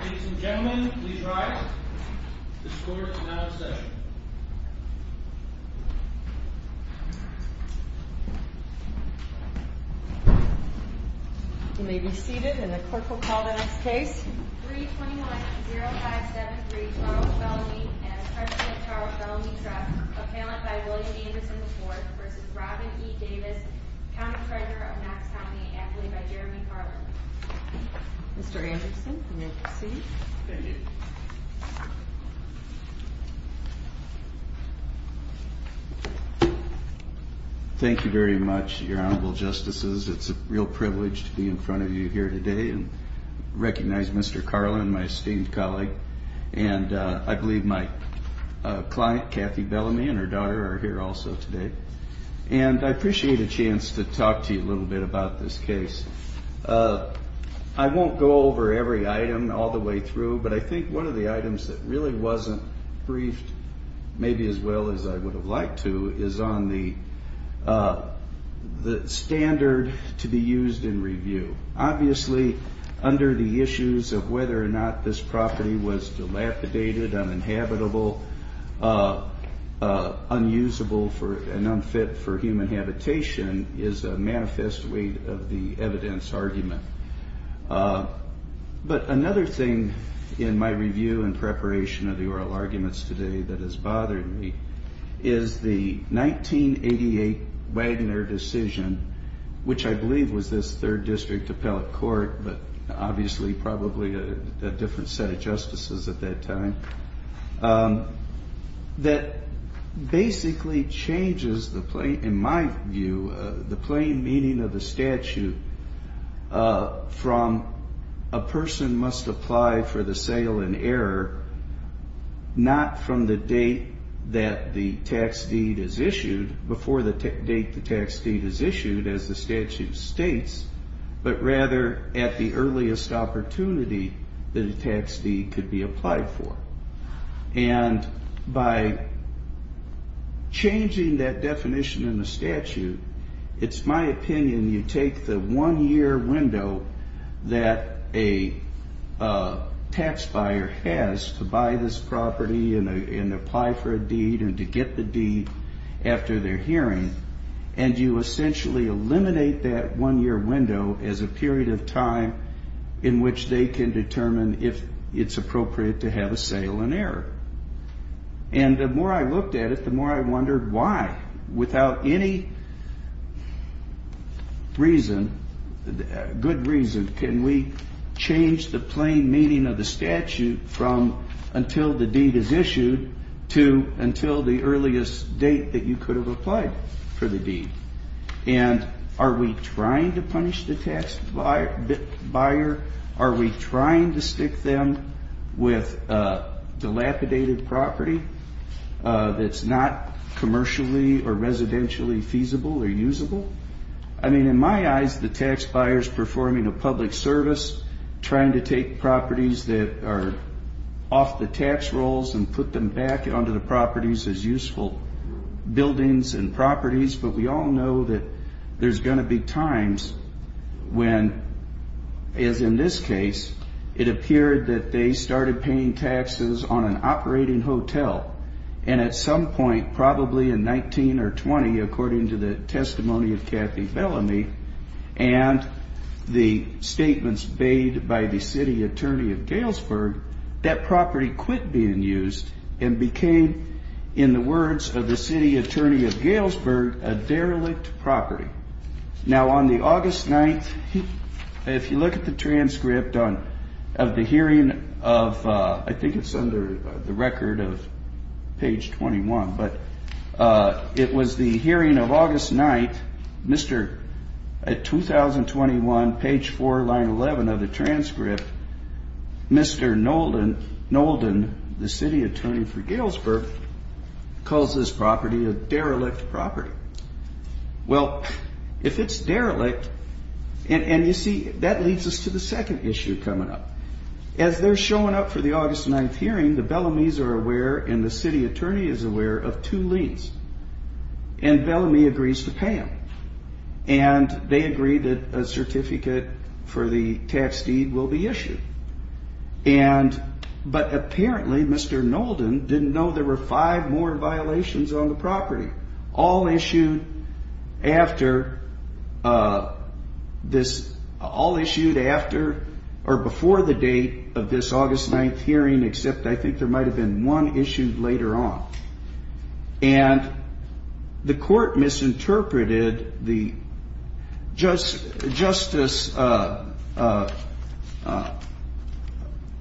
Ladies and gentlemen, please rise. This court is now in session. You may be seated, and the clerk will call the next case. 321-0573, Charles Bellamy and a charge of Charles Bellamy theft, appellant by William Anderson IV v. Robin E. Davis, counterfeiter of Max Towney, appellate by Jeremy Carlin. Mr. Anderson, you may proceed. Thank you very much, your Honorable Justices. It's a real privilege to be in front of you here today and recognize Mr. Carlin, my esteemed colleague. And I believe my client, Kathy Bellamy, and her daughter are here also today. And I appreciate a chance to talk to you a little bit about this case. I won't go over every item all the way through, but I think one of the items that really wasn't briefed maybe as well as I would have liked to is on the standard to be used in review. Obviously, under the issues of whether or not this property was dilapidated, uninhabitable, unusable and unfit for human habitation is a manifest weight of the evidence argument. But another thing in my review and preparation of the oral arguments today that has bothered me is the 1988 Wagner decision, which I believe was this third district appellate court, but obviously probably a different set of justices at that time, that basically changes, in my view, the plain meaning of the statute from a person must apply for the sale in error not from the date that the tax deed is issued, before the date the tax deed is issued, as the statute states, but rather at the earliest opportunity that a tax deed could be applied for. And by changing that definition in the statute, it's my opinion you take the one-year window that a tax buyer has to buy this property and apply for a deed and to get the deed after their hearing, and you essentially eliminate that one-year window as a period of time in which they can determine if it's appropriate to have a sale in error. And the more I looked at it, the more I wondered why, without any reason, good reason, can we change the plain meaning of the statute from until the deed is issued to until the earliest date that you could have applied for the deed? And are we trying to punish the tax buyer? Are we trying to stick them with a dilapidated property that's not commercially or residentially feasible or usable? I mean, in my eyes, the tax buyer's performing a public service, trying to take properties that are off the tax rolls and put them back onto the properties as useful buildings and properties, but we all know that there's going to be times when, as in this case, it appeared that they started paying taxes on an operating hotel. And at some point, probably in 19 or 20, according to the testimony of Kathy Bellamy and the statements made by the city attorney of Galesburg, that property quit being used and became, in the words of the city attorney of Galesburg, a derelict property. Now, on the August 9th, if you look at the transcript of the hearing of, I think it's under the record of page 21, but it was the hearing of August 9th, at 2021, page 4, line 11 of the transcript, Mr. Nolden, the city attorney for Galesburg, calls this property a derelict property. Well, if it's derelict, and you see, that leads us to the second issue coming up. As they're showing up for the August 9th hearing, the Bellamys are aware and the city attorney is aware of two leads. And Bellamy agrees to pay them. And they agree that a certificate for the tax deed will be issued. And, but apparently, Mr. Nolden didn't know there were five more violations on the property, all issued after this, all issued after or before the date of this August 9th hearing, except I think there might have been one issued later on. And the court misinterpreted the, Justice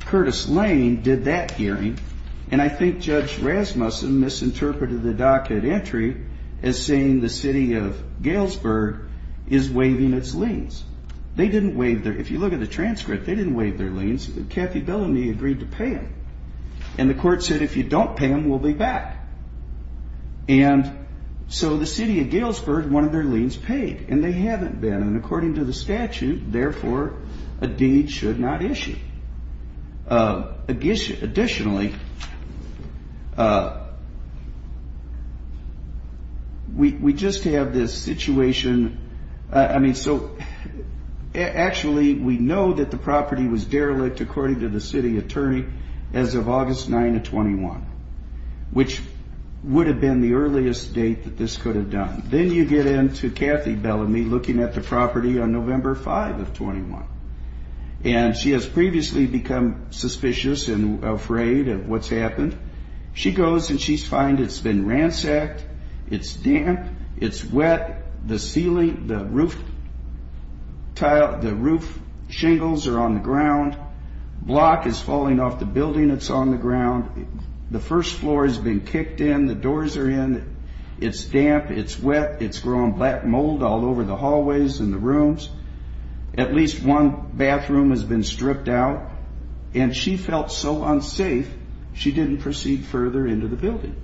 Curtis Lane did that hearing. And I think Judge Rasmussen misinterpreted the docket entry as saying the city of Galesburg is waiving its liens. They didn't waive their, if you look at the transcript, they didn't waive their liens. Kathy Bellamy agreed to pay them. And the court said if you don't pay them, we'll be back. And so the city of Galesburg wanted their liens paid. And they haven't been. And according to the statute, therefore, a deed should not issue. Additionally, we just have this situation. I mean, so actually, we know that the property was derelict, according to the city attorney, as of August 9 of 21, which would have been the earliest date that this could have done. Then you get into Kathy Bellamy looking at the property on November 5 of 21. And she has previously become suspicious and afraid of what's happened. She goes and she finds it's been ransacked. It's damp. It's wet. The ceiling, the roof tiles, the roof shingles are on the ground. Block is falling off the building that's on the ground. The first floor has been kicked in. The doors are in. It's damp. It's wet. It's grown black mold all over the hallways and the rooms. At least one bathroom has been stripped out. And she felt so unsafe, she didn't proceed further into the building.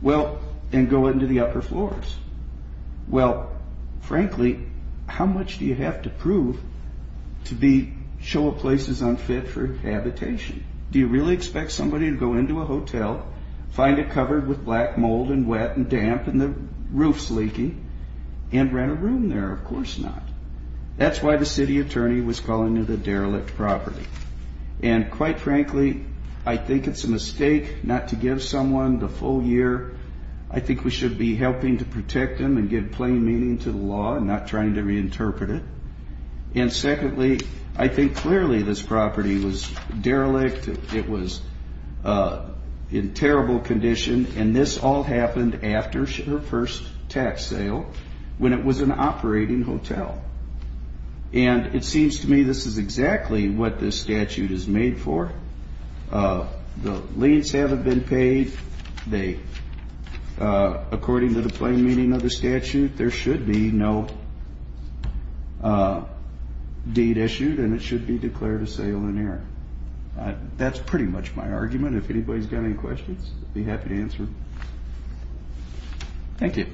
Well, and go into the upper floors. Well, frankly, how much do you have to prove to show a place is unfit for habitation? Do you really expect somebody to go into a hotel, find it covered with black mold and wet and damp and the roof's leaking, and rent a room there? Of course not. That's why the city attorney was calling it a derelict property. And quite frankly, I think it's a mistake not to give someone the full year. I think we should be helping to protect them and give plain meaning to the law and not trying to reinterpret it. And secondly, I think clearly this property was derelict. It was in terrible condition. And this all happened after her first tax sale when it was an operating hotel. And it seems to me this is exactly what this statute is made for. The liens haven't been paid. According to the plain meaning of the statute, there should be no deed issued and it should be declared a sale in error. That's pretty much my argument. If anybody's got any questions, I'd be happy to answer. Thank you.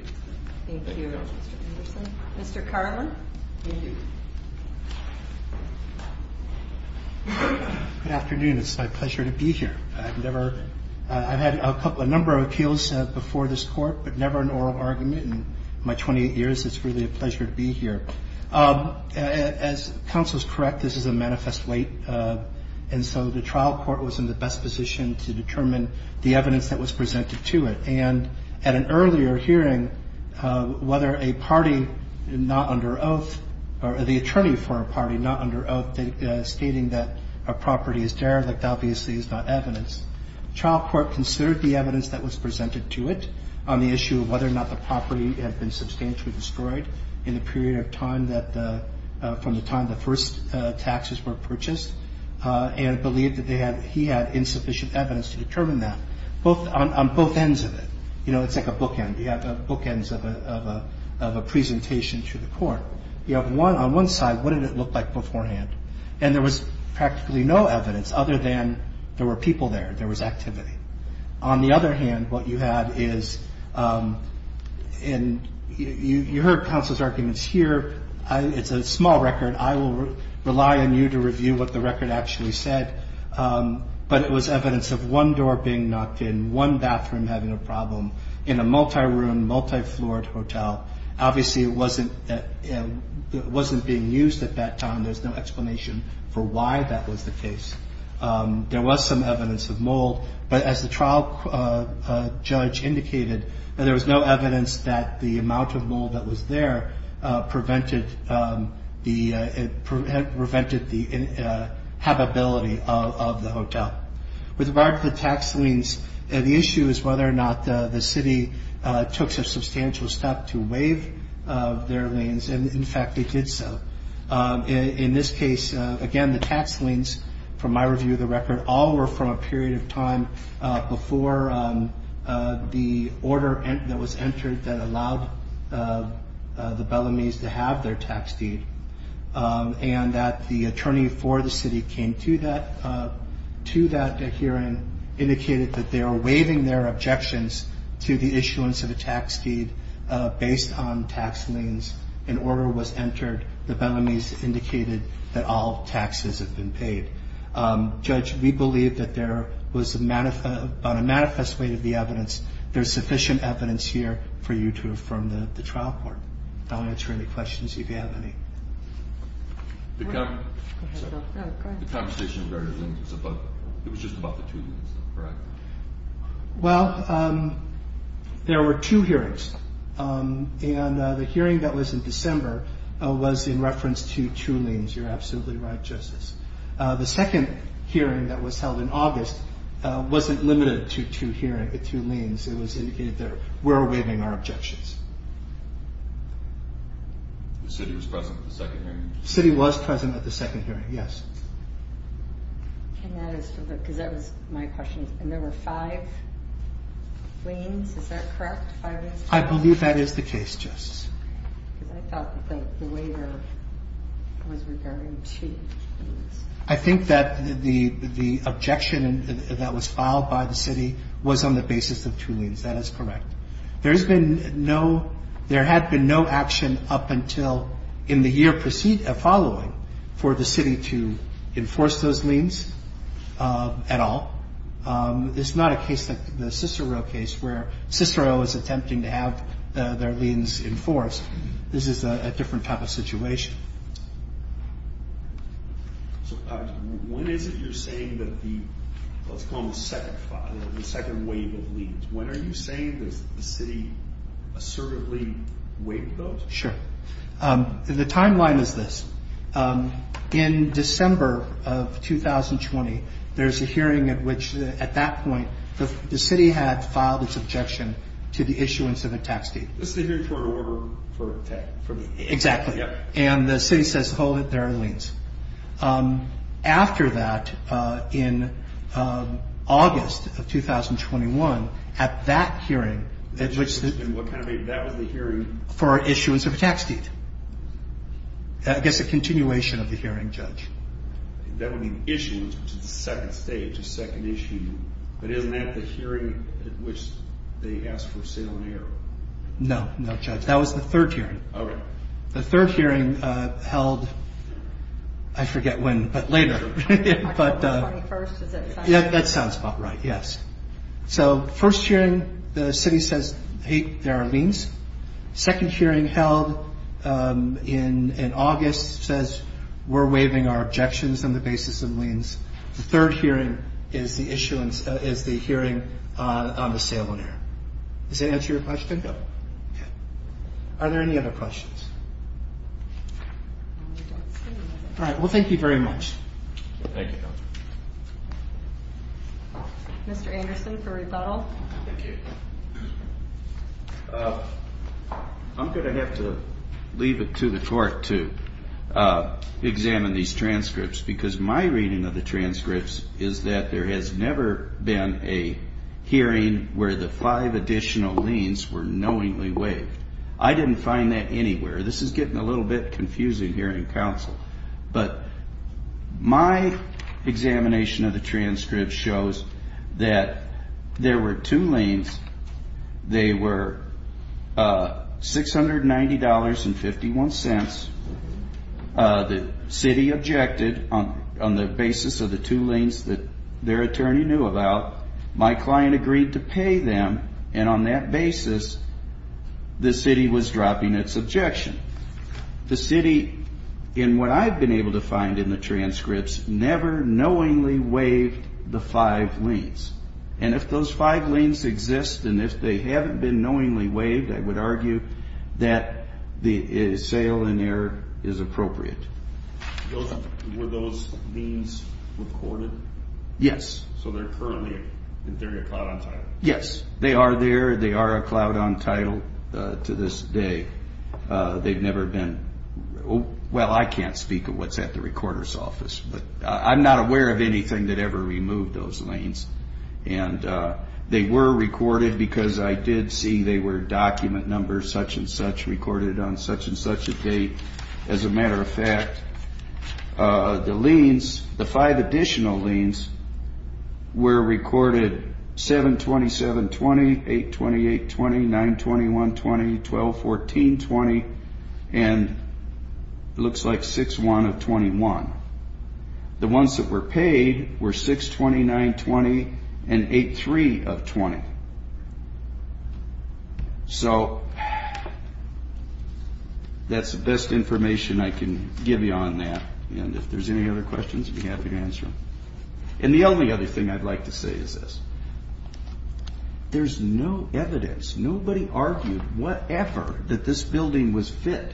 Thank you, Mr. Anderson. Mr. Carlin. Thank you. Good afternoon. It's my pleasure to be here. I've had a number of appeals before this court, but never an oral argument in my 28 years. It's really a pleasure to be here. As counsel is correct, this is a manifest late. And so the trial court was in the best position to determine the evidence that was presented to it. And at an earlier hearing, whether a party not under oath or the attorney for a party not under oath stating that a property is derelict, obviously is not evidence. The trial court considered the evidence that was presented to it on the issue of whether or not the property had been substantially destroyed in the period of time from the time the first taxes were purchased and believed that he had insufficient evidence to determine that on both ends of it. You know, it's like a bookend. You have bookends of a presentation to the court. You have on one side what did it look like beforehand. And there was practically no evidence other than there were people there. There was activity. On the other hand, what you had is you heard counsel's arguments here. It's a small record. I will rely on you to review what the record actually said. But it was evidence of one door being knocked in, one bathroom having a problem, in a multi-room, multi-floored hotel. Obviously, it wasn't being used at that time. There's no explanation for why that was the case. There was some evidence of mold. But as the trial judge indicated, there was no evidence that the amount of mold that was there prevented the habitability of the hotel. With regard to the tax liens, the issue is whether or not the city took such substantial steps to waive their liens. And, in fact, they did so. In this case, again, the tax liens, from my review of the record, all were from a period of time before the order that was entered that allowed the Bellomese to have their tax deed. And that the attorney for the city came to that hearing, indicated that they were waiving their objections to the issuance of a tax deed based on tax liens. An order was entered. The Bellomese indicated that all taxes had been paid. Judge, we believe that there was, on a manifest way to the evidence, there's sufficient evidence here for you to affirm the trial court. I'll answer any questions if you have any. The conversation was just about the two liens, correct? Well, there were two hearings. And the hearing that was in December was in reference to two liens. You're absolutely right, Justice. The second hearing that was held in August wasn't limited to two liens. It was indicated that we're waiving our objections. The city was present at the second hearing? The city was present at the second hearing, yes. Because that was my question. And there were five liens. Is that correct, five liens? I believe that is the case, Justice. Because I thought that the waiver was regarding two liens. I think that the objection that was filed by the city was on the basis of two liens. That is correct. There had been no action up until in the year following for the city to enforce those liens at all. It's not a case like the Cicero case where Cicero is attempting to have their liens enforced. This is a different type of situation. So, when is it you're saying that the, let's call them the second wave of liens, when are you saying that the city assertively waived those? Sure. The timeline is this. In December of 2020, there's a hearing at which, at that point, the city had filed its objection to the issuance of a tax deed. This is the hearing for an order for tax? Exactly. And the city says, hold it, there are liens. After that, in August of 2021, at that hearing. And what kind of hearing? That was the hearing for issuance of a tax deed. I guess a continuation of the hearing, Judge. That would mean issuance, which is the second stage, a second issue. But isn't that the hearing at which they asked for a sale and error? No, no, Judge. That was the third hearing. Okay. The third hearing held, I forget when, but later. March 21st, is that right? That sounds about right, yes. So, first hearing, the city says, hey, there are liens. Second hearing held in August says, we're waiving our objections on the basis of liens. The third hearing is the hearing on the sale and error. Does that answer your question? No. Okay. Are there any other questions? All right. Well, thank you very much. Thank you. Mr. Anderson for rebuttal. Thank you. I'm going to have to leave it to the court to examine these transcripts because my reading of the transcripts is that there has never been a hearing where the five additional liens were knowingly waived. I didn't find that anywhere. This is getting a little bit confusing here in counsel. But my examination of the transcript shows that there were two liens. They were $690.51. The city objected on the basis of the two liens that their attorney knew about. My client agreed to pay them, and on that basis, the city was dropping its objection. The city, in what I've been able to find in the transcripts, never knowingly waived the five liens. And if those five liens exist, and if they haven't been knowingly waived, I would argue that the sale in error is appropriate. Were those liens recorded? Yes. So they're currently in theory a cloud on title? Yes. They are there. They are a cloud on title to this day. They've never been... Well, I can't speak of what's at the recorder's office, but I'm not aware of anything that ever removed those liens. And they were recorded because I did see they were document numbers, such and such, recorded on such and such a date. As a matter of fact, the liens, the five additional liens, were recorded 7-27-20, 8-28-20, 9-21-20, 12-14-20, and it looks like 6-1-21. The ones that were paid were 6-29-20 and 8-3-20. So that's the best information I can give you on that. And if there's any other questions, I'd be happy to answer them. And the only other thing I'd like to say is this. There's no evidence. Nobody argued whatever that this building was fit.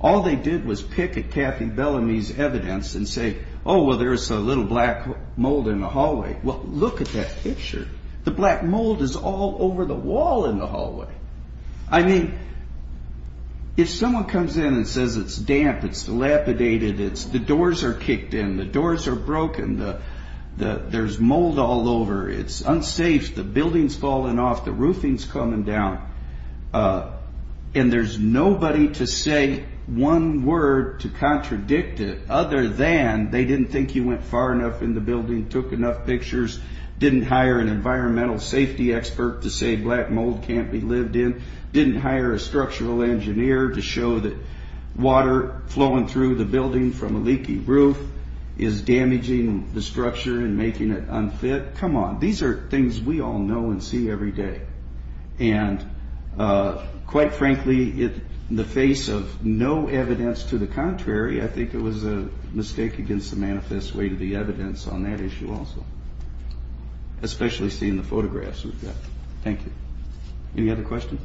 All they did was pick at Kathy Bellamy's evidence and say, oh, well, there's a little black mold in the hallway. Well, look at that picture. The black mold is all over the wall in the hallway. I mean, if someone comes in and says it's damp, it's dilapidated, the doors are kicked in, the doors are broken, there's mold all over, it's unsafe, the building's falling off, the roofing's coming down, and there's nobody to say one word to contradict it other than they didn't think you went far enough in the building, took enough pictures, didn't hire an environmental safety expert to say black mold can't be lived in, didn't hire a structural engineer to show that water flowing through the building from a leaky roof is damaging the structure and making it unfit. Come on. These are things we all know and see every day. And quite frankly, in the face of no evidence to the contrary, I think it was a mistake against the manifest way to be evidence on that issue also, especially seeing the photographs we've got. Thank you. Any other questions?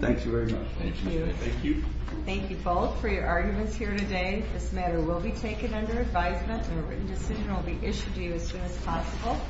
Thank you very much. Thank you. Thank you both for your arguments here today. This matter will be taken under advisement, and a written decision will be issued to you as soon as possible.